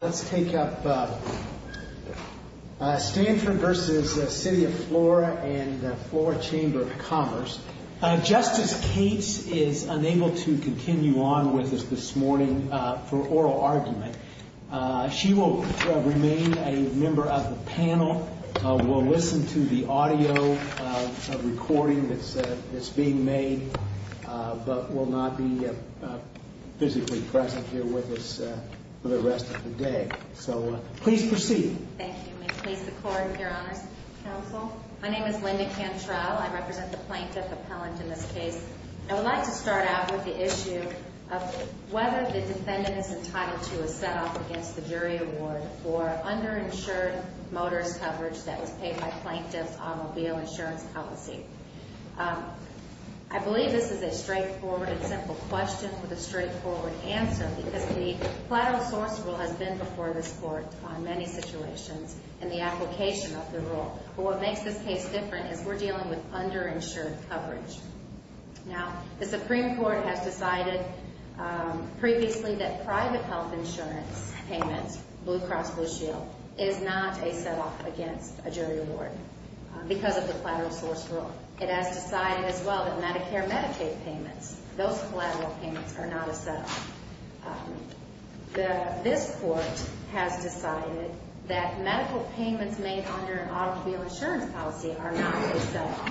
Let's take up Stanford v. City of Flora and Flora Chamber of Commerce. Justice Cates is unable to continue on with us this morning for oral argument. She will remain a member of the panel, will listen to the audio recording that's being made, but will not be physically present here with us for the rest of the day. So, please proceed. Thank you. May it please the Court and your Honors Council. My name is Linda Cantrell. I represent the Plaintiff Appellant in this case. I would like to start out with the issue of whether the defendant is entitled to a set-off against the jury award for underinsured motorist coverage that was paid by Plaintiff's automobile insurance policy. I believe this is a straightforward and simple question with a straightforward answer because the collateral source rule has been before this Court on many situations in the application of the rule. But what makes this case different is we're dealing with underinsured coverage. Now, the Supreme Court has decided previously that private health insurance payments, Blue Cross Blue Shield, is not a set-off against a jury award because of the collateral source rule. It has decided as well that Medicare-Medicaid payments, those collateral payments, are not a set-off. This Court has decided that medical payments made under an automobile insurance policy are not a set-off.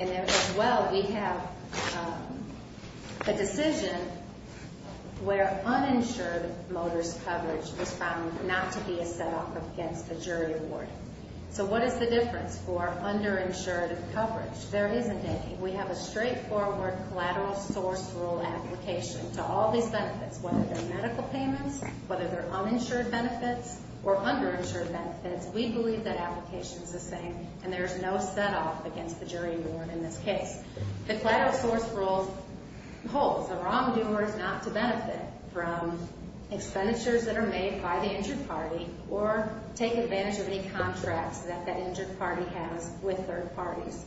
And as well, we have a decision where uninsured motorist coverage was found not to be a set-off against a jury award. So what is the difference for underinsured coverage? There isn't any. We have a straightforward collateral source rule application to all these benefits, whether they're medical payments, whether they're uninsured benefits, or underinsured benefits. We believe that application is the same, and there's no set-off against the jury award in this case. The collateral source rule holds. A wrongdoer is not to benefit from expenditures that are made by the injured party or take advantage of any contracts that that injured party has with third parties.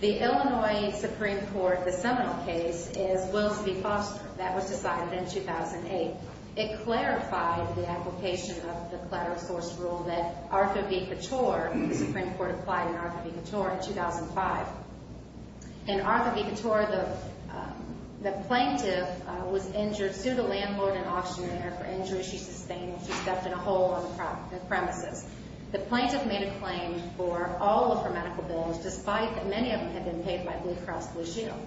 The Illinois Supreme Court, the Seminole case, is Willis v. Foster. That was decided in 2008. It clarified the application of the collateral source rule that Arthur v. Couture, the Supreme Court applied in Arthur v. Couture in 2005. In Arthur v. Couture, the plaintiff was injured, sued a landlord and auctioneer for injuries she sustained when she stepped in a hole on the premises. The plaintiff made a claim for all of her medical bills, despite that many of them had been paid by Blue Cross Blue Shield.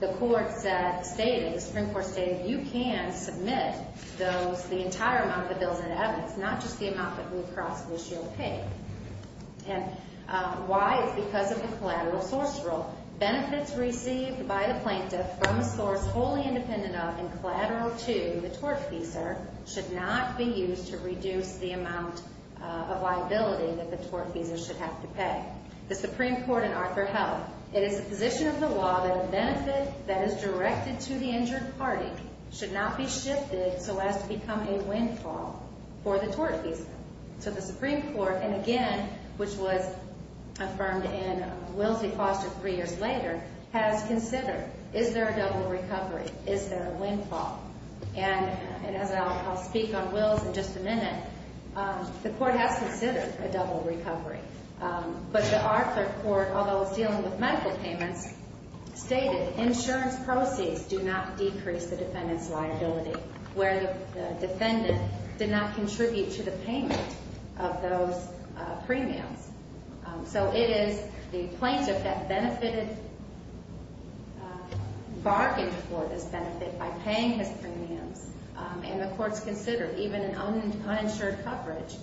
The Supreme Court stated, you can submit the entire amount of the bills in evidence, not just the amount that Blue Cross Blue Shield paid. Why? It's because of the collateral source rule. Benefits received by the plaintiff from a source wholly independent of and collateral to the tortfeasor should not be used to reduce the amount of liability that the tortfeasor should have to pay. The Supreme Court in Arthur held, it is the position of the law that a benefit that is directed to the injured party should not be shifted so as to become a windfall for the tortfeasor. So the Supreme Court, and again, which was affirmed in Willis v. Foster three years later, has considered, is there a double recovery? Is there a windfall? And as I'll speak on Willis in just a minute, the court has considered a double recovery. But the Arthur court, although it's dealing with medical payments, stated insurance proceeds do not decrease the defendant's liability where the defendant did not contribute to the payment of those premiums. So it is the plaintiff that benefited, bargained for this benefit by paying his premiums. And the court's considered, even in uninsured coverage,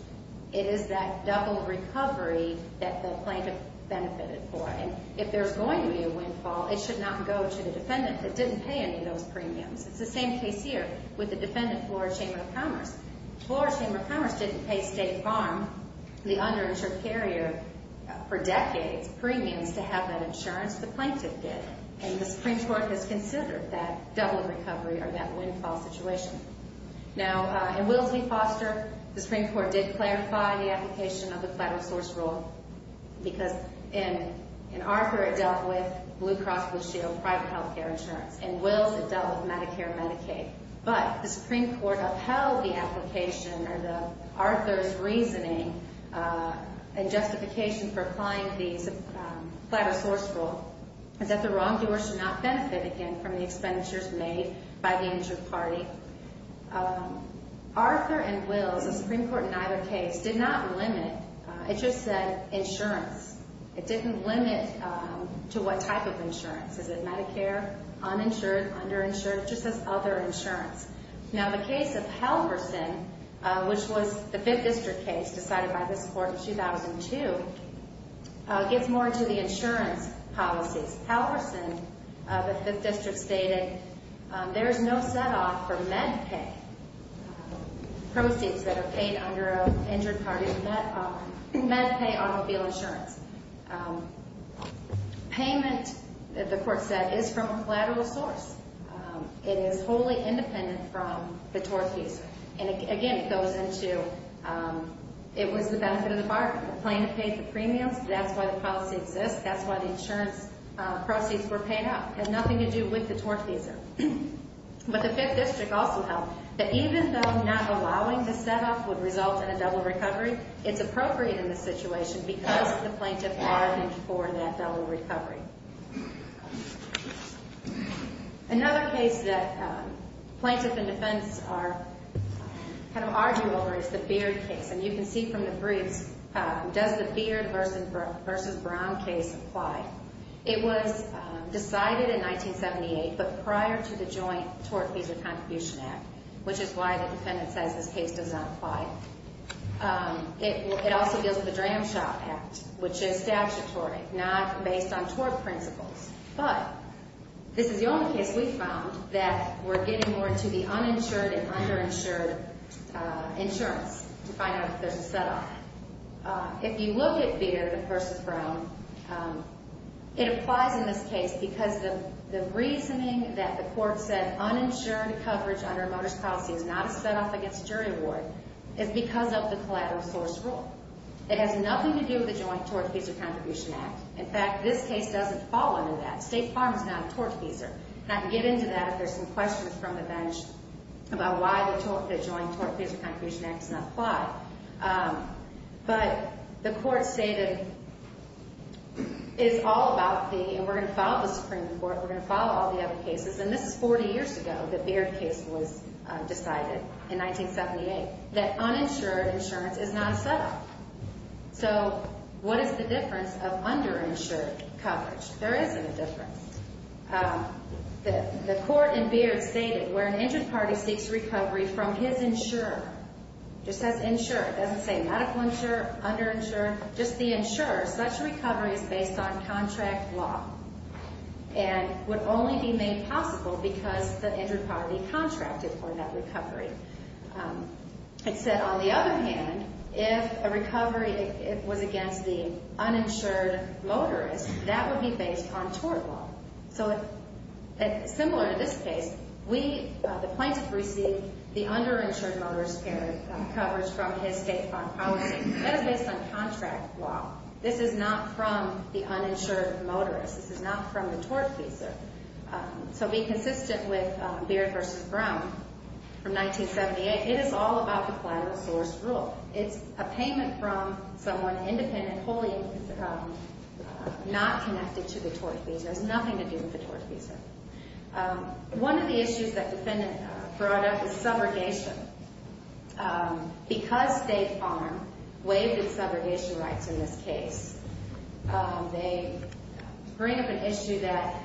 it is that double recovery that the plaintiff benefited for. And if there's going to be a windfall, it should not go to the defendant that didn't pay any of those premiums. It's the same case here with the defendant, Flora Chamber of Commerce. Flora Chamber of Commerce didn't pay State Farm, the underinsured carrier, for decades, premiums to have that insurance. The plaintiff did. And the Supreme Court has considered that double recovery or that windfall situation. Now, in Willis v. Foster, the Supreme Court did clarify the application of the flatter source rule, because in Arthur, it dealt with Blue Cross Blue Shield, private health care insurance. In Willis, it dealt with Medicare and Medicaid. But the Supreme Court upheld the application or Arthur's reasoning and justification for applying the flatter source rule is that the wrongdoer should not benefit, again, from the expenditures made by the insured party. Arthur and Willis, the Supreme Court in either case, did not limit. It just said insurance. It didn't limit to what type of insurance. Is it Medicare, uninsured, underinsured? It just says other insurance. Now, the case of Halverson, which was the 5th District case decided by this Court in 2002, gets more into the insurance policies. Halverson, the 5th District, stated there is no set-off for MedPay, proceeds that are paid under an injured party's MedPay automobile insurance. Payment, the Court said, is from a collateral source. It is wholly independent from the tort fees. And again, it goes into, it was the benefit of the bargain. The plaintiff paid the premiums. That's why the policy exists. That's why the insurance proceeds were paid out. It has nothing to do with the tort fees. But the 5th District also held that even though not allowing the set-off would result in a double recovery, it's appropriate in this situation because the plaintiff bargained for that double recovery. Another case that plaintiffs and defendants kind of argue over is the Beard case. And you can see from the briefs, does the Beard v. Brown case apply? It was decided in 1978, but prior to the Joint Tort Fees and Contribution Act, which is why the defendant says this case does not apply. It also deals with the Dram Shop Act, which is statutory, not based on tort principles. But this is the only case we found that we're getting more into the uninsured and underinsured insurance to find out if there's a set-off. If you look at Beard v. Brown, it applies in this case because the reasoning that the court said uninsured coverage under a motorist policy is not a set-off against jury award is because of the collateral source rule. It has nothing to do with the Joint Tort Fees and Contribution Act. In fact, this case doesn't fall under that. State Farm is not a tort feeser. And I can get into that if there's some questions from the bench about why the Joint Tort Fees and Contribution Act does not apply. But the court stated it's all about the, and we're going to follow the Supreme Court, we're going to follow all the other cases, and this is 40 years ago the Beard case was decided in 1978, that uninsured insurance is not a set-off. So what is the difference of underinsured coverage? There isn't a difference. The court in Beard stated where an injured party seeks recovery from his insurer, just says insurer, it doesn't say medical insurer, underinsurer, just the insurer, such recovery is based on contract law and would only be made possible because the injured party contracted for that recovery. It said, on the other hand, if a recovery was against the uninsured motorist, that would be based on tort law. So similar to this case, we, the plaintiff received the underinsured motorist coverage from his State Farm policy. That is based on contract law. This is not from the uninsured motorist. This is not from the tort fees. So being consistent with Beard v. Brown from 1978, it is all about the collateral source rule. It's a payment from someone independent, wholly not connected to the tort fees. It has nothing to do with the tort fees. One of the issues that the defendant brought up is subrogation. Because State Farm waived its subrogation rights in this case, they bring up an issue that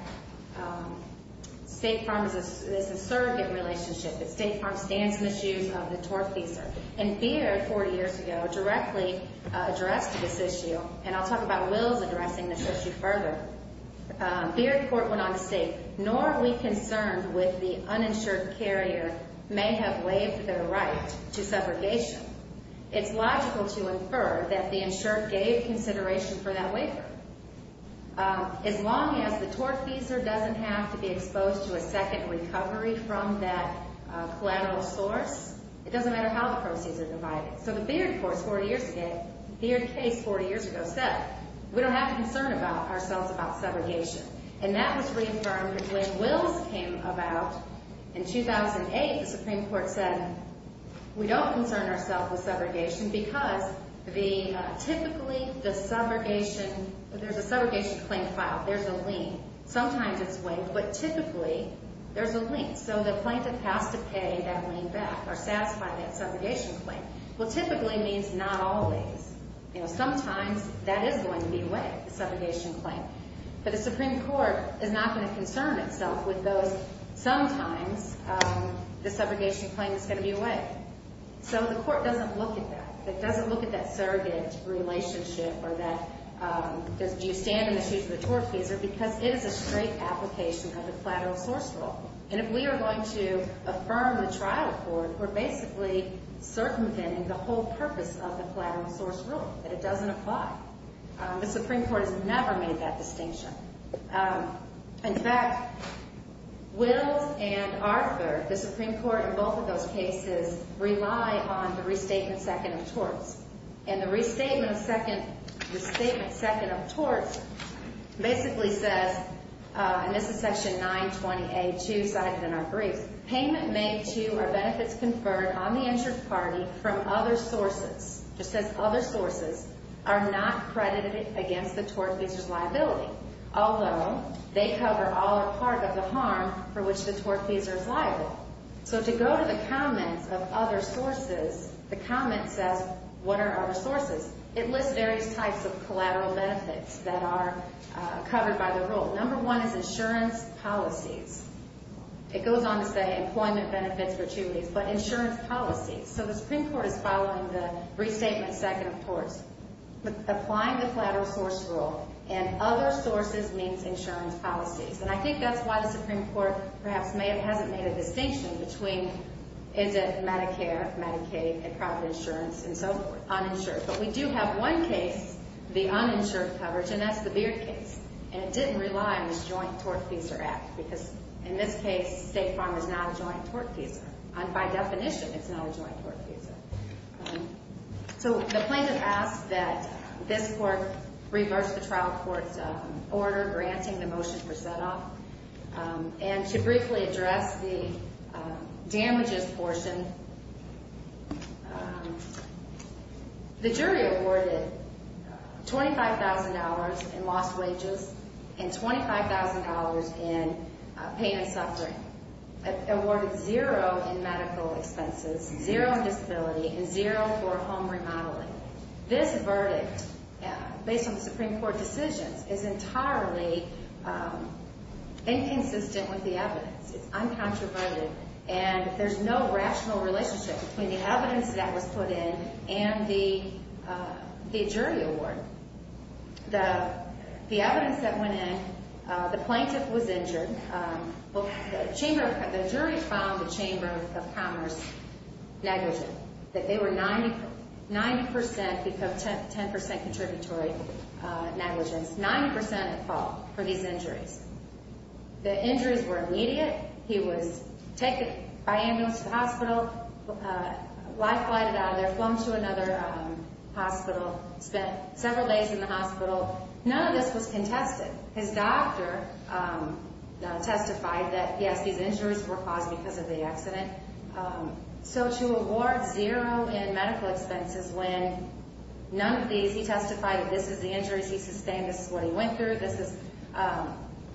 State Farm is a surrogate relationship. It's State Farm's stance misuse of the tort fees. And Beard, 40 years ago, directly addressed this issue, and I'll talk about Will's addressing this issue further. Beard court went on to state, nor are we concerned with the uninsured carrier may have waived their right to subrogation. It's logical to infer that the insured gave consideration for that waiver. As long as the tort feeser doesn't have to be exposed to a second recovery from that collateral source, it doesn't matter how the proceeds are divided. So the Beard court 40 years ago, Beard case 40 years ago, said we don't have to concern ourselves about subrogation. And that was reaffirmed when Will's came about in 2008. The Supreme Court said we don't concern ourselves with subrogation because typically the subrogation, there's a subrogation claim filed. There's a lien. Sometimes it's waived, but typically there's a lien. So the plaintiff has to pay that lien back or satisfy that subrogation claim. Well, typically means not always. You know, sometimes that is going to be waived, the subrogation claim. But the Supreme Court is not going to concern itself with those. Sometimes the subrogation claim is going to be waived. So the court doesn't look at that. It doesn't look at that surrogate relationship or that do you stand in the shoes of the tort feeser because it is a straight application of the collateral source rule. And if we are going to affirm the trial court, we're basically circumventing the whole purpose of the collateral source rule, that it doesn't apply. The Supreme Court has never made that distinction. In fact, Will's and Arthur, the Supreme Court in both of those cases, rely on the restatement second of torts. And the restatement second of torts basically says, and this is section 920A2 cited in our brief, payment made to or benefits conferred on the insured party from other sources, just says other sources, are not credited against the tort feeser's liability, although they cover all or part of the harm for which the tort feeser is liable. So to go to the comments of other sources, the comment says, what are our sources? It lists various types of collateral benefits that are covered by the rule. Number one is insurance policies. It goes on to say employment benefits for two reasons, but insurance policies. So the Supreme Court is following the restatement second of torts. Applying the collateral source rule and other sources means insurance policies. And I think that's why the Supreme Court perhaps hasn't made a distinction between is it Medicare, Medicaid, and private insurance and so forth, uninsured. But we do have one case, the uninsured coverage, and that's the Beard case. And it didn't rely on this joint tort feeser act, because in this case, State Farm is not a joint tort feeser. And by definition, it's not a joint tort feeser. So the plaintiff asks that this court reverse the trial court's order granting the motion for setoff. And to briefly address the damages portion, the jury awarded $25,000 in lost wages and $25,000 in pain and suffering. They awarded zero in medical expenses, zero in disability, and zero for home remodeling. This verdict, based on the Supreme Court decisions, is entirely inconsistent with the evidence. It's uncontroverted. And there's no rational relationship between the evidence that was put in and the jury award. The evidence that went in, the plaintiff was injured. Well, the jury found the Chamber of Commerce negligent, that they were 90% because 10% contributory negligence, 90% at fault for these injuries. The injuries were immediate. He was taken by ambulance to the hospital, life-flighted out of there, flung to another hospital, spent several days in the hospital. None of this was contested. His doctor testified that, yes, these injuries were caused because of the accident. So to award zero in medical expenses when none of these, he testified that this is the injuries he sustained, this is what he went through, this is,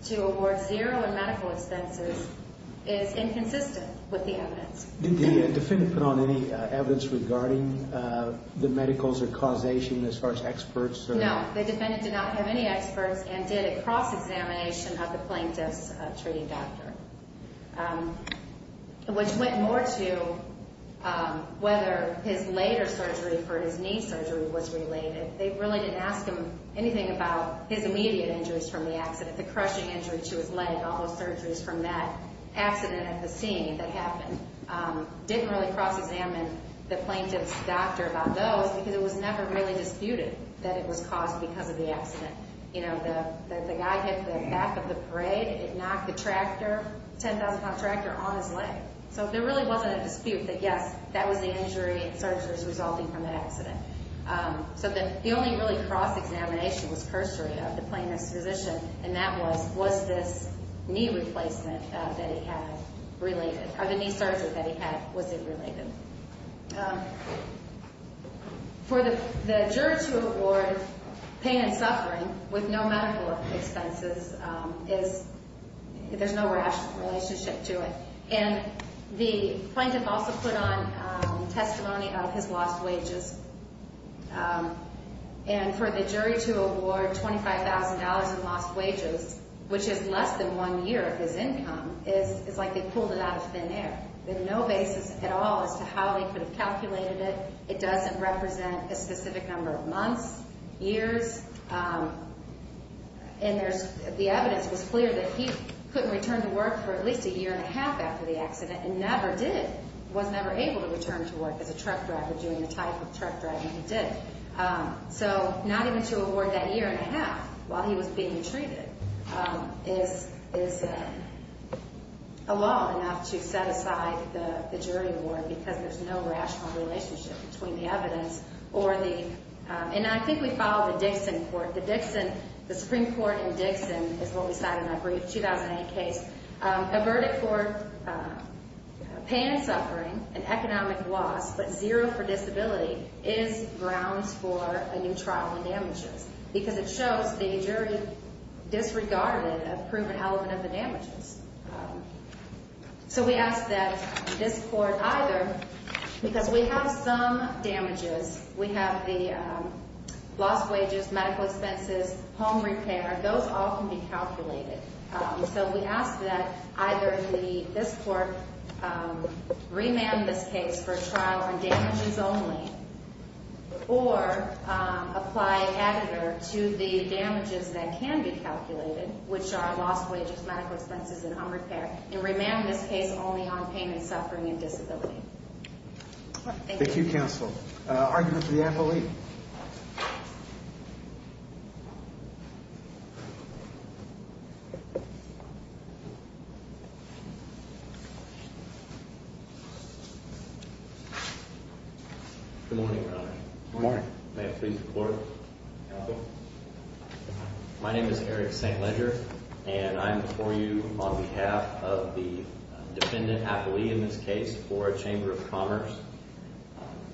to award zero in medical expenses is inconsistent with the evidence. Did the defendant put on any evidence regarding the medicals or causation as far as experts? No. The defendant did not have any experts and did a cross-examination of the plaintiff's treating doctor, which went more to whether his later surgery for his knee surgery was related. They really didn't ask him anything about his immediate injuries from the accident, the crushing injury to his leg, all those surgeries from that accident at the scene that happened. Didn't really cross-examine the plaintiff's doctor about those because it was never really disputed that it was caused because of the accident. You know, the guy hit the back of the parade, it knocked the tractor, 10,000-pound tractor, on his leg. So there really wasn't a dispute that, yes, that was the injury and surgeries resulting from that accident. So the only really cross-examination was cursory of the plaintiff's physician, and that was, was this knee replacement that he had related, or the knee surgery that he had, was it related? For the juror to award pain and suffering with no medical expenses is, there's no rational relationship to it. And the plaintiff also put on testimony of his lost wages. And for the jury to award $25,000 in lost wages, which is less than one year of his income, is, it's like they pulled it out of thin air. There's no basis at all as to how they could have calculated it. It doesn't represent a specific number of months, years. And there's, the evidence was clear that he couldn't return to work for at least a year and a half after the accident, and never did, was never able to return to work as a truck driver, doing the type of truck driving he did. So not even to award that year and a half while he was being treated is, is a law enough to set aside the jury award because there's no rational relationship between the evidence or the, and I think we follow the Dixon Court, the Dixon, the Supreme Court in Dixon is what we cite in our brief 2008 case. A verdict for pain and suffering, an economic loss, but zero for disability, is grounds for a new trial on damages. Because it shows the jury disregarded a proven element of the damages. So we ask that this court either, because we have some damages, we have the lost wages, medical expenses, home repair, those all can be calculated. So we ask that either this court remand this case for a trial on damages only, or apply agitator to the damages that can be calculated, which are lost wages, medical expenses, and home repair, and remand this case only on pain and suffering and disability. Thank you. Thank you, counsel. Argument for the affiliate. Thank you. Good morning, your honor. Good morning. May it please the court. My name is Eric St. Leger, and I'm before you on behalf of the defendant affiliate in this case for a chamber of commerce.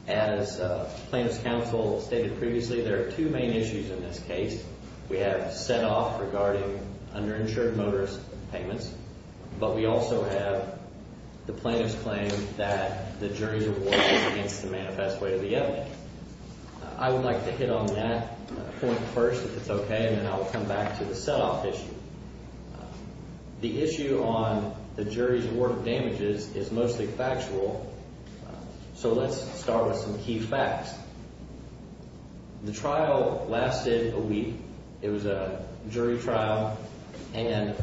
As plaintiff's counsel stated previously, there are two main issues in this case. We have set off regarding underinsured motorist payments, but we also have the plaintiff's claim that the jury's award is against the manifest way of the evidence. I would like to hit on that point first, if it's okay, and then I'll come back to the set off issue. The issue on the jury's award of damages is mostly factual, so let's start with some key facts. The trial lasted a week. It was a jury trial, and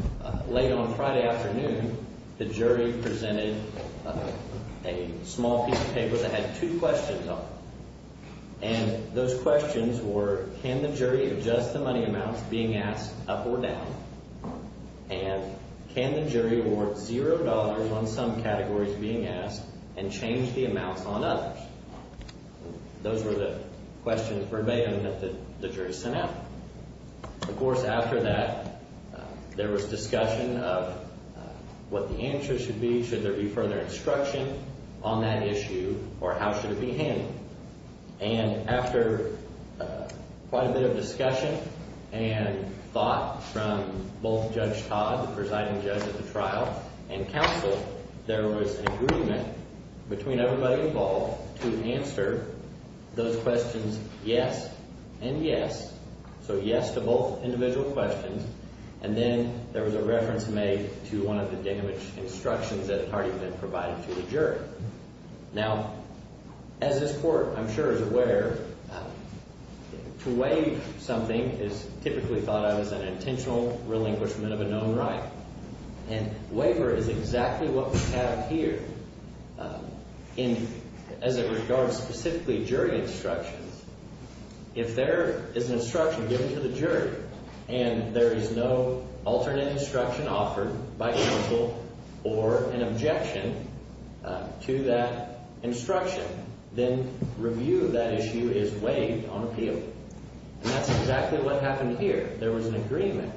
late on Friday afternoon, the jury presented a small piece of paper that had two questions on it. And those questions were, can the jury adjust the money amounts being asked up or down, and can the jury award zero dollars on some categories being asked and change the amounts on others? Those were the questions verbatim that the jury sent out. Of course, after that, there was discussion of what the answer should be, should there be further instruction on that issue, or how should it be handled? And after quite a bit of discussion and thought from both Judge Todd, the presiding judge of the trial, and counsel, there was an agreement between everybody involved to answer those questions yes and yes. So yes to both individual questions, and then there was a reference made to one of the damage instructions that had already been provided to the jury. Now, as this Court, I'm sure, is aware, to waive something is typically thought of as an intentional relinquishment of a known right. And waiver is exactly what we have here as it regards specifically jury instructions. If there is an instruction given to the jury and there is no alternate instruction offered by counsel or an objection to that instruction, then review of that issue is waived on appeal. And that's exactly what happened here. There was an agreement.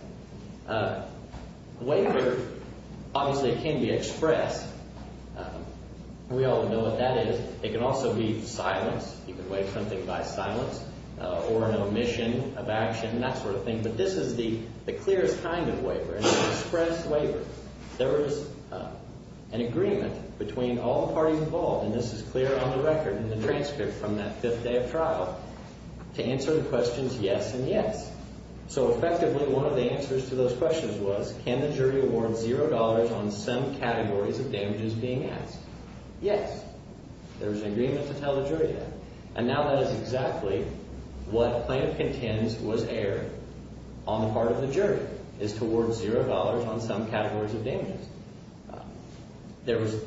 Waiver obviously can be expressed. We all know what that is. It can also be silenced. You can waive something by silence or an omission of action, that sort of thing. But this is the clearest kind of waiver, an express waiver. There is an agreement between all the parties involved, and this is clear on the record in the transcript from that fifth day of trial, to answer the questions yes and yes. So effectively, one of the answers to those questions was, can the jury award $0 on some categories of damages being asked? Yes. There was an agreement to tell the jury that. And now that is exactly what plaintiff contends was erred on the part of the jury, is to award $0 on some categories of damages.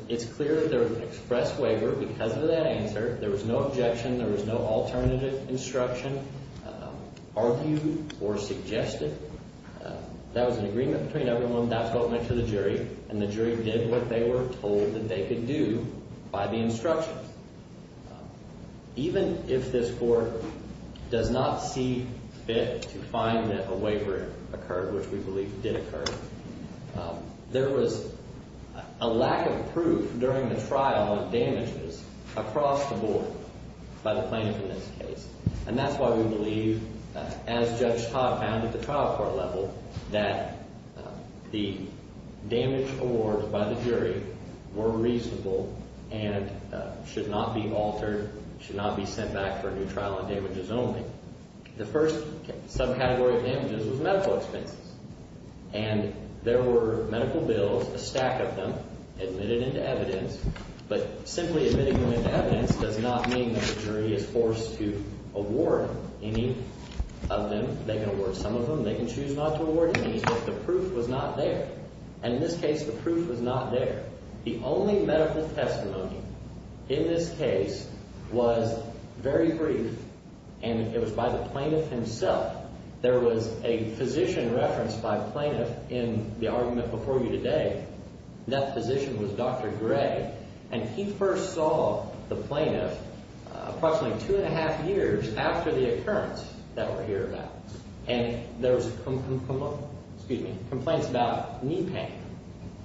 It's clear that there was an express waiver because of that answer. There was no objection. There was no alternative instruction. Nobody argued or suggested. That was an agreement between everyone. That's what went to the jury, and the jury did what they were told that they could do by the instruction. Even if this court does not see fit to find that a waiver occurred, which we believe did occur, there was a lack of proof during the trial of damages across the board by the plaintiff in this case. And that's why we believe, as Judge Todd found at the trial court level, that the damage awards by the jury were reasonable and should not be altered, should not be sent back for a new trial on damages only. The first subcategory of damages was medical expenses. And there were medical bills, a stack of them, admitted into evidence. But simply admitting them into evidence does not mean that the jury is forced to award any of them. They can award some of them. They can choose not to award any, but the proof was not there. And in this case, the proof was not there. The only medical testimony in this case was very brief, and it was by the plaintiff himself. There was a physician referenced by the plaintiff in the argument before you today. That physician was Dr. Gray, and he first saw the plaintiff approximately two and a half years after the occurrence that we're here about. And there was complaints about knee pain.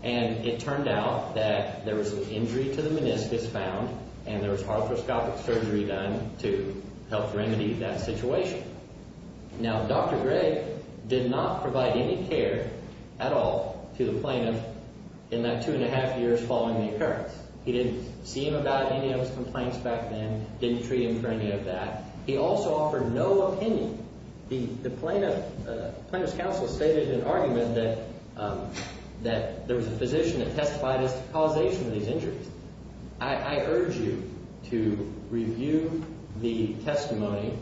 And it turned out that there was an injury to the meniscus found, and there was arthroscopic surgery done to help remedy that situation. Now, Dr. Gray did not provide any care at all to the plaintiff in that two and a half years following the occurrence. He didn't see him about any of his complaints back then, didn't treat him for any of that. He also offered no opinion. The plaintiff's counsel stated in an argument that there was a physician that testified as to causation of these injuries. I urge you to review the testimony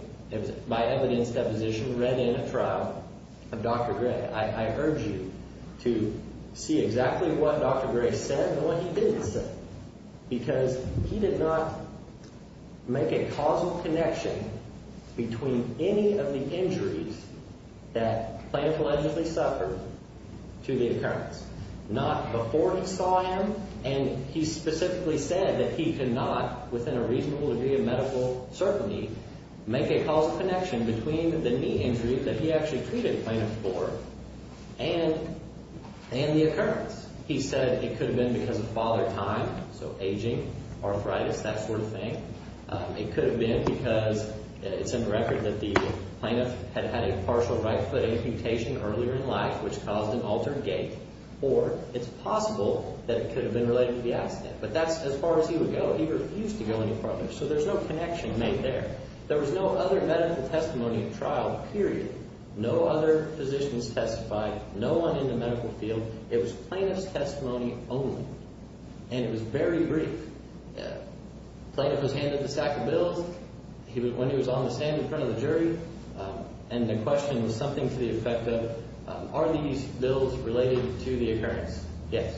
by evidence deposition read in a trial of Dr. Gray. I urge you to see exactly what Dr. Gray said and what he didn't say because he did not make a causal connection between any of the injuries that plaintiff allegedly suffered to the occurrence. Not before he saw him, and he specifically said that he could not, within a reasonable degree of medical certainty, make a causal connection between the knee injury that he actually treated plaintiff for and the occurrence. He said it could have been because of father time, so aging, arthritis, that sort of thing. It could have been because it's in the record that the plaintiff had had a partial right foot amputation earlier in life, which caused an altered gait, or it's possible that it could have been related to the accident. But that's as far as he would go. He refused to go any further, so there's no connection made there. There was no other medical testimony at trial, period. No other physicians testified. No one in the medical field. It was plaintiff's testimony only, and it was very brief. Plaintiff was handed the stack of bills when he was on the stand in front of the jury, and the question was something to the effect of, are these bills related to the occurrence? Yes,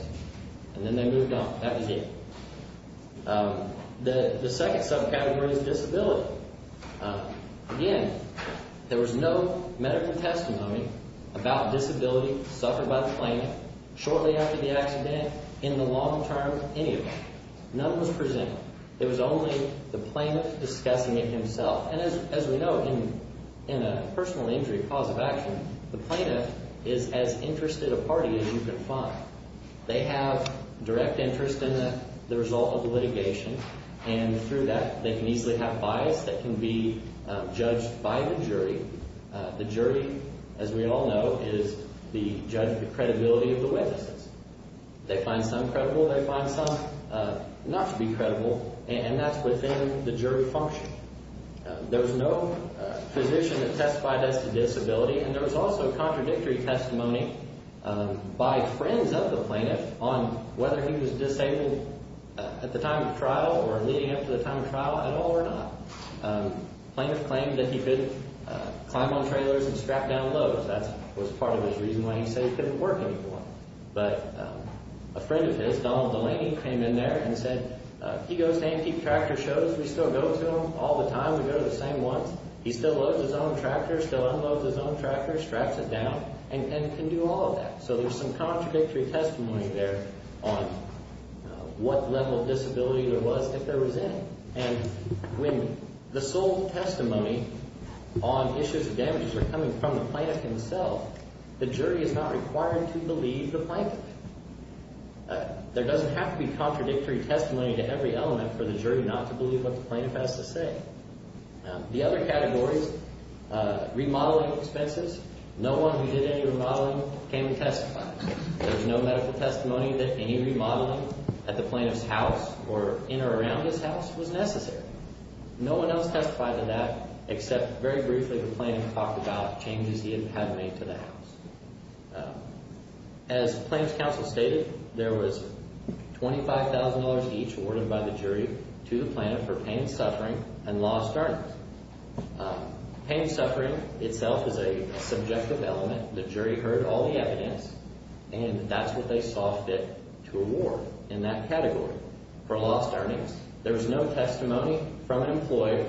and then they moved on. That was it. The second subcategory is disability. Again, there was no medical testimony about disability suffered by the plaintiff shortly after the accident, in the long term, any of it. None was presented. It was only the plaintiff discussing it himself. And as we know, in a personal injury cause of action, the plaintiff is as interested a party as you can find. They have direct interest in the result of the litigation, and through that, they can easily have bias that can be judged by the jury. The jury, as we all know, is the judge of the credibility of the witnesses. They find some credible. They find some not to be credible, and that's within the jury function. There was no physician that testified as to disability. And there was also contradictory testimony by friends of the plaintiff on whether he was disabled at the time of trial or leading up to the time of trial at all or not. The plaintiff claimed that he could climb on trailers and scrap down loads. That was part of his reason why he said he couldn't work anymore. But a friend of his, Donald Delaney, came in there and said, he goes to antique tractor shows. We still go to them all the time. We go to the same ones. He still loads his own tractor, still unloads his own tractor, straps it down, and can do all of that. So there's some contradictory testimony there on what level of disability there was if there was any. And when the sole testimony on issues of damages are coming from the plaintiff himself, the jury is not required to believe the plaintiff. There doesn't have to be contradictory testimony to every element for the jury not to believe what the plaintiff has to say. The other category is remodeling expenses. No one who did any remodeling came to testify. There's no medical testimony that any remodeling at the plaintiff's house or in or around his house was necessary. No one else testified to that except very briefly the plaintiff talked about changes he had made to the house. As Plaintiff's Counsel stated, there was $25,000 each awarded by the jury to the plaintiff for pain and suffering and lost earnings. Pain and suffering itself is a subjective element. The jury heard all the evidence, and that's what they saw fit to award in that category for lost earnings. There was no testimony from an employee,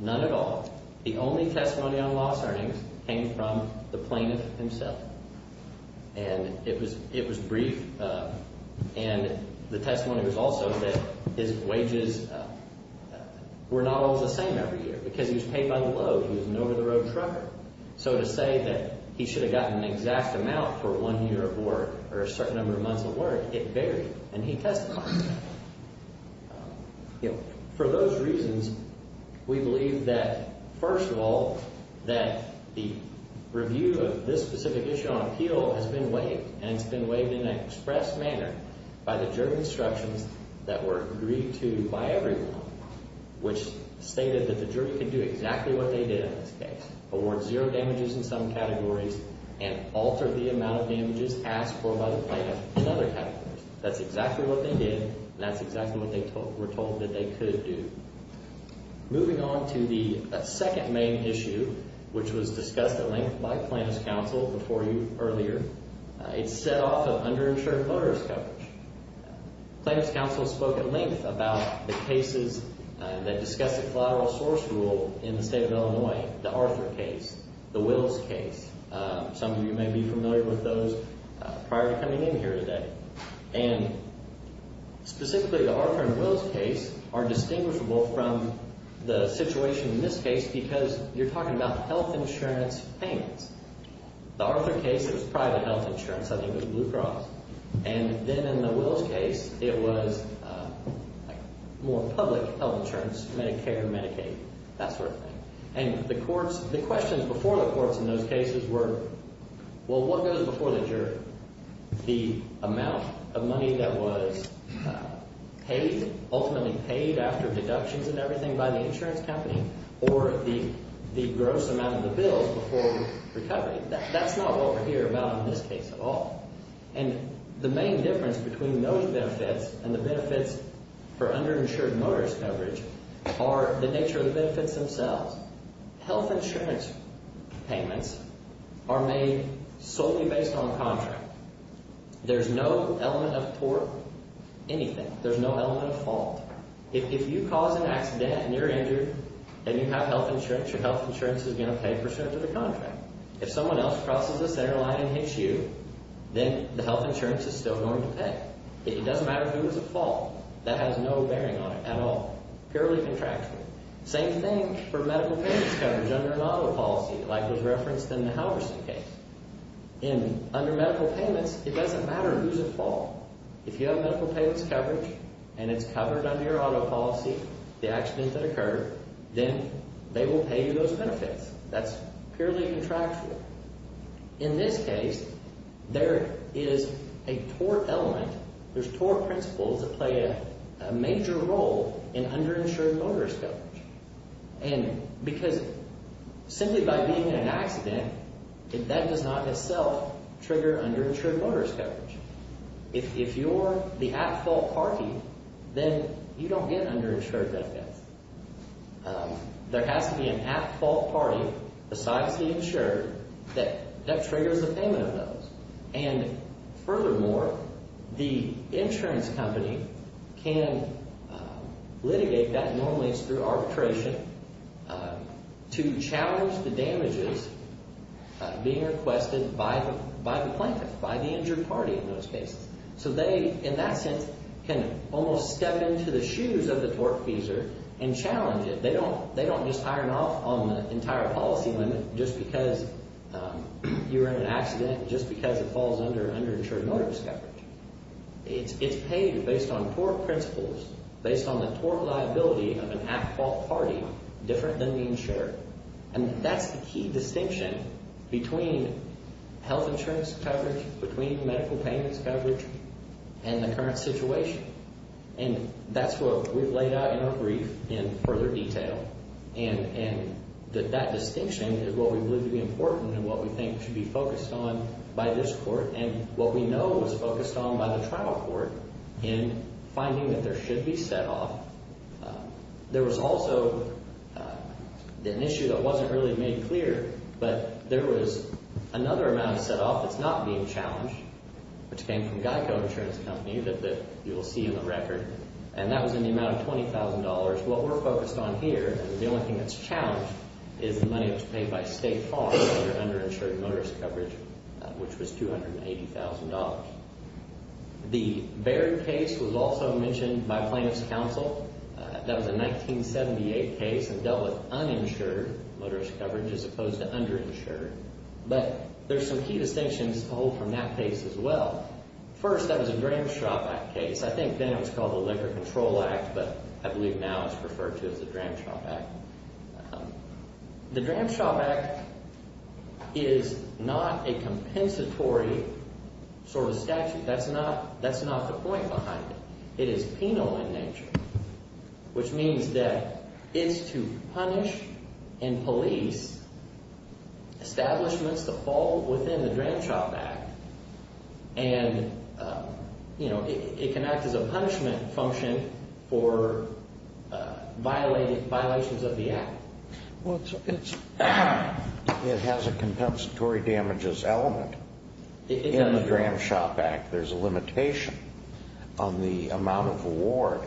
none at all. The only testimony on lost earnings came from the plaintiff himself, and it was brief. And the testimony was also that his wages were not all the same every year because he was paid by the load. He was an over-the-road trucker. So to say that he should have gotten an exact amount for one year of work or a certain number of months of work, it varied, and he testified. For those reasons, we believe that, first of all, that the review of this specific issue on appeal has been waived, and it's been waived in an express manner by the jury instructions that were agreed to by everyone, which stated that the jury could do exactly what they did in this case, award zero damages in some categories and alter the amount of damages asked for by the plaintiff in other categories. That's exactly what they did, and that's exactly what they were told that they could do. Moving on to the second main issue, which was discussed at length by plaintiff's counsel before you earlier. It's set off of underinsured motorist coverage. Plaintiff's counsel spoke at length about the cases that discuss the collateral source rule in the state of Illinois, the Arthur case, the Wills case. Some of you may be familiar with those prior to coming in here today. And specifically, the Arthur and Wills case are distinguishable from the situation in this case because you're talking about health insurance payments. The Arthur case, it was private health insurance. I think it was Blue Cross. And then in the Wills case, it was more public health insurance, Medicare, Medicaid, that sort of thing. And the courts – the questions before the courts in those cases were, well, what goes before the jury? The amount of money that was paid, ultimately paid after deductions and everything by the insurance company or the gross amount of the bills before recovery. That's not what we're here about in this case at all. And the main difference between those benefits and the benefits for underinsured motorist coverage are the nature of the benefits themselves. Health insurance payments are made solely based on the contract. There's no element of tort, anything. There's no element of fault. If you cause an accident and you're injured and you have health insurance, your health insurance is going to pay for the rest of the contract. If someone else crosses the center line and hits you, then the health insurance is still going to pay. It doesn't matter who was at fault. That has no bearing on it at all. Purely contractual. Same thing for medical payments coverage under an auto policy like was referenced in the Halverson case. Under medical payments, it doesn't matter who's at fault. If you have medical payments coverage and it's covered under your auto policy, the accident that occurred, then they will pay you those benefits. That's purely contractual. In this case, there is a tort element. There's tort principles that play a major role in underinsured motorist coverage. And because simply by being in an accident, that does not itself trigger underinsured motorist coverage. If you're the at-fault party, then you don't get underinsured benefits. There has to be an at-fault party besides the insurer that triggers the payment of those. And furthermore, the insurance company can litigate that normally through arbitration to challenge the damages being requested by the plaintiff, by the injured party in those cases. So they, in that sense, can almost step into the shoes of the tortfeasor and challenge it. They don't just iron off on the entire policy limit just because you're in an accident, just because it falls under underinsured motorist coverage. It's paid based on tort principles, based on the tort liability of an at-fault party different than the insurer. And that's the key distinction between health insurance coverage, between medical payments coverage, and the current situation. And that's what we've laid out in our brief in further detail. And that distinction is what we believe to be important and what we think should be focused on by this court and what we know is focused on by the trial court in finding that there should be set off. There was also an issue that wasn't really made clear, but there was another amount set off that's not being challenged, which came from Geico Insurance Company that you'll see in the record. And that was in the amount of $20,000. What we're focused on here, and the only thing that's challenged, is the money that was paid by State Farm under underinsured motorist coverage, which was $280,000. The Baird case was also mentioned by plaintiff's counsel. That was a 1978 case and dealt with uninsured motorist coverage as opposed to underinsured. But there's some key distinctions to hold from that case as well. First, that was a Dram Shop Act case. I think then it was called the Liquor Control Act, but I believe now it's referred to as the Dram Shop Act. The Dram Shop Act is not a compensatory sort of statute. That's not the point behind it. It is penal in nature, which means that it's to punish and police establishments that fall within the Dram Shop Act. And, you know, it can act as a punishment function for violations of the Act. Well, it has a compensatory damages element in the Dram Shop Act. There's a limitation on the amount of award,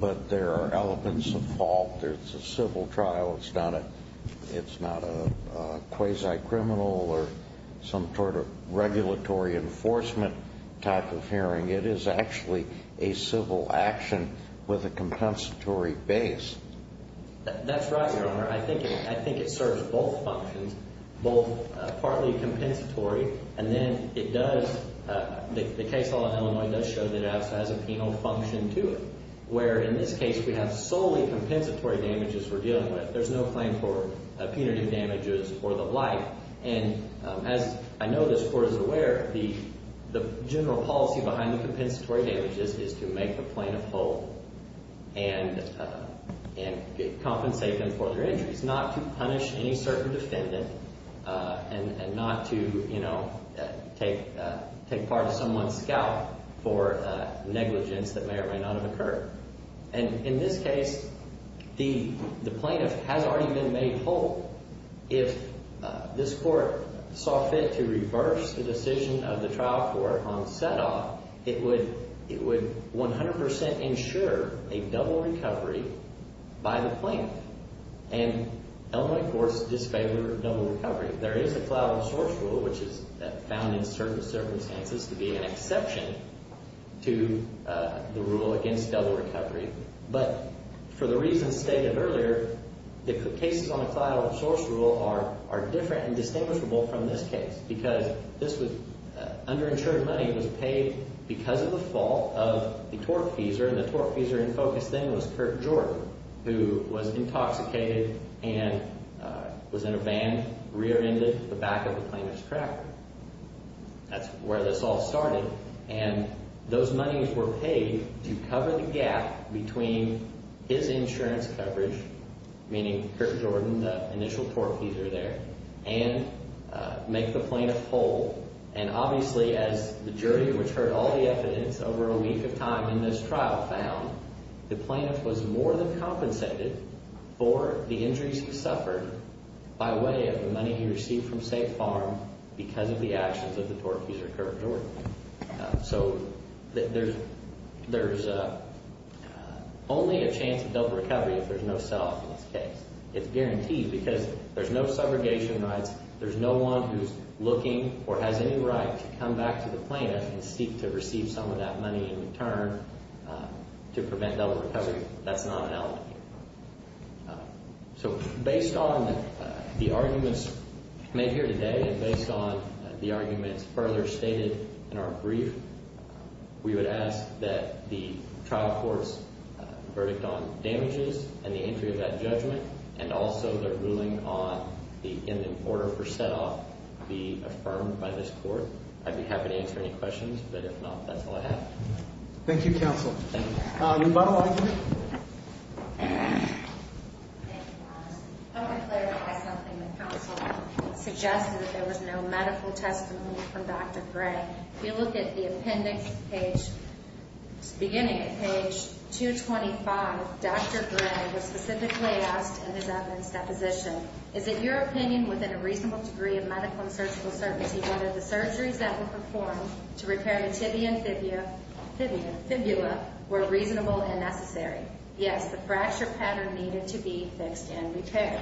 but there are elements of fault. It's a civil trial. It's not a quasi-criminal or some sort of regulatory enforcement type of hearing. It is actually a civil action with a compensatory base. That's right, Your Honor. I think it serves both functions, both partly compensatory. And then it does, the case law in Illinois does show that it has a penal function to it, where in this case we have solely compensatory damages we're dealing with. There's no claim for punitive damages or the like. And as I know this Court is aware, the general policy behind the compensatory damages is to make the plaintiff whole and compensate them for their injuries, not to punish any certain defendant and not to, you know, take part of someone's scalp for negligence that may or may not have occurred. And in this case, the plaintiff has already been made whole. If this Court saw fit to reverse the decision of the trial court on set-off, it would 100% ensure a double recovery by the plaintiff. And Illinois courts disfavor double recovery. There is a collateral source rule, which is found in certain circumstances to be an exception to the rule against double recovery. But for the reasons stated earlier, the cases on the collateral source rule are different and distinguishable from this case because this was underinsured money was paid because of the fault of the tortfeasor. The tortfeasor in focus then was Kirk Jordan, who was intoxicated and was in a van, rear-ended at the back of the plaintiff's tractor. That's where this all started. And those monies were paid to cover the gap between his insurance coverage, meaning Kirk Jordan, the initial tortfeasor there, and make the plaintiff whole. And obviously, as the jury, which heard all the evidence over a week of time in this trial, found, the plaintiff was more than compensated for the injuries he suffered by way of the money he received from Safe Farm because of the actions of the tortfeasor, Kirk Jordan. So there's only a chance of double recovery if there's no set-off in this case. It's guaranteed because there's no subrogation rights. There's no one who's looking or has any right to come back to the plaintiff and seek to receive some of that money in return to prevent double recovery. That's not an element here. So based on the arguments made here today and based on the arguments further stated in our brief, we would ask that the trial court's verdict on damages and the entry of that judgment and also the ruling in the order for set-off be affirmed by this court. I'd be happy to answer any questions, but if not, that's all I have. Thank you, counsel. Thank you. Lubow, I agree. I would clarify something the counsel suggested. There was no medical testimony from Dr. Gray. If you look at the appendix beginning at page 225, Dr. Gray was specifically asked in his evidence deposition, is it your opinion within a reasonable degree of medical and surgical certainty whether the surgeries that were performed to repair the tibia and fibula were reasonable and necessary? Yes, the fracture pattern needed to be fixed and repaired.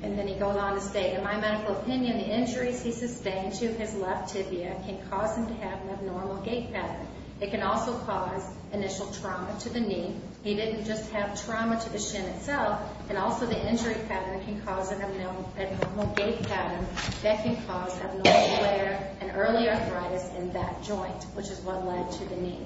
And then he goes on to state, in my medical opinion, the injuries he sustained to his left tibia can cause him to have an abnormal gait pattern. It can also cause initial trauma to the knee. He didn't just have trauma to the shin itself, and also the injury pattern can cause an abnormal gait pattern that can cause abnormal wear and early arthritis in that joint, which is what led to the knee.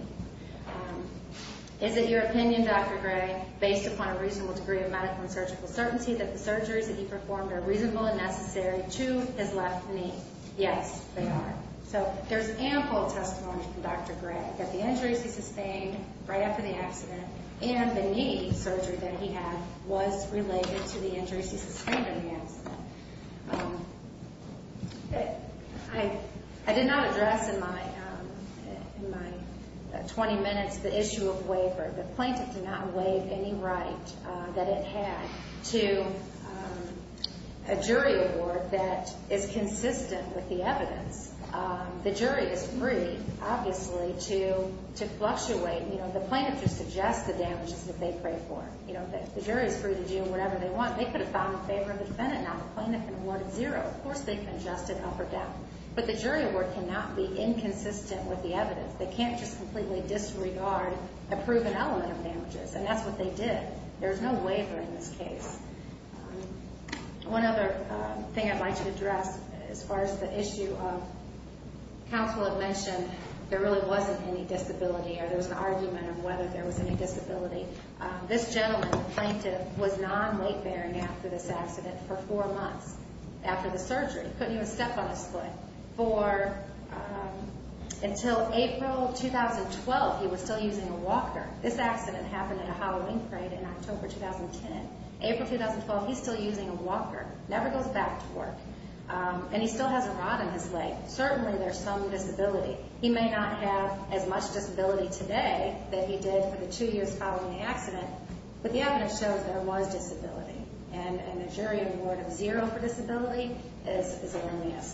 Is it your opinion, Dr. Gray, based upon a reasonable degree of medical and surgical certainty that the surgeries that he performed are reasonable and necessary to his left knee? Yes, they are. So there's ample testimony from Dr. Gray that the injuries he sustained right after the accident and the knee surgery that he had was related to the injuries he sustained in the accident. I did not address in my 20 minutes the issue of waiver. The plaintiff did not waive any right that it had to a jury award that is consistent with the evidence. The jury is free, obviously, to fluctuate. The plaintiff just suggests the damages that they pray for. The jury is free to do whatever they want. They could have filed in favor of the defendant now. The plaintiff can award zero. Of course they can adjust it up or down. But the jury award cannot be inconsistent with the evidence. They can't just completely disregard a proven element of damages, and that's what they did. There's no waiver in this case. One other thing I'd like to address as far as the issue of counsel had mentioned, there really wasn't any disability or there was an argument of whether there was any disability. This gentleman, the plaintiff, was non-leg bearing after this accident for four months after the surgery. He couldn't even step on his foot until April 2012. He was still using a walker. This accident happened in a Halloween parade in October 2010. April 2012, he's still using a walker, never goes back to work, and he still has a rod in his leg. Certainly there's some disability. He may not have as much disability today that he did for the two years following the accident, but the evidence shows that there was disability, and the jury award of zero for disability is a lenient.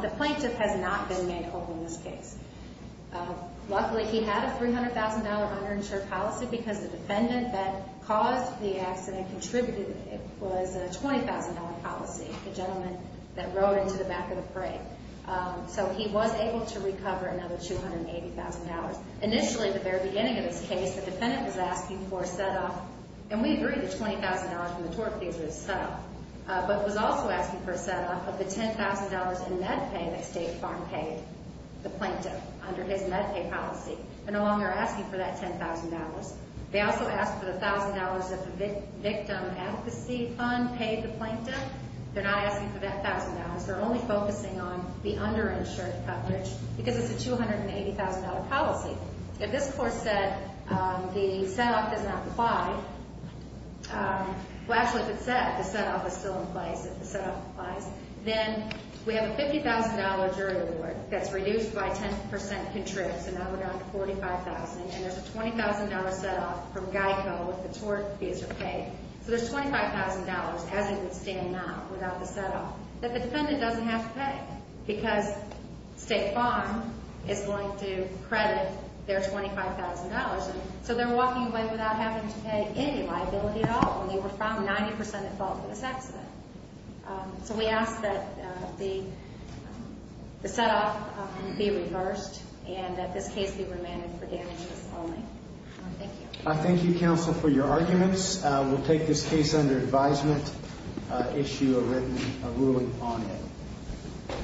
The plaintiff has not been made open in this case. Luckily, he had a $300,000 underinsured policy because the defendant that caused the accident contributed. It was a $20,000 policy, the gentleman that rode into the back of the parade. So he was able to recover another $280,000. Initially, at the very beginning of this case, the defendant was asking for a set-off, and we agree the $20,000 from the tort fees was a set-off, but was also asking for a set-off of the $10,000 in med pay that State Farm paid the plaintiff under his med pay policy. They're no longer asking for that $10,000. They also asked for the $1,000 that the victim advocacy fund paid the plaintiff. They're not asking for that $1,000. They're only focusing on the underinsured coverage because it's a $280,000 policy. If this court said the set-off does not apply, well, actually, if it said the set-off is still in place, if the set-off applies, then we have a $50,000 jury award that's reduced by 10% contrived, so now we're down to $45,000, and there's a $20,000 set-off from GEICO with the tort fees are paid. So there's $25,000 as it would stand now without the set-off that the defendant doesn't have to pay because State Farm is going to credit their $25,000, and so they're walking away without having to pay any liability at all, and they were found 90% at fault for this accident. So we ask that the set-off be reversed and that this case be remanded for damages only. Thank you. Thank you, counsel, for your arguments. We'll take this case under advisement, issue a written ruling on it.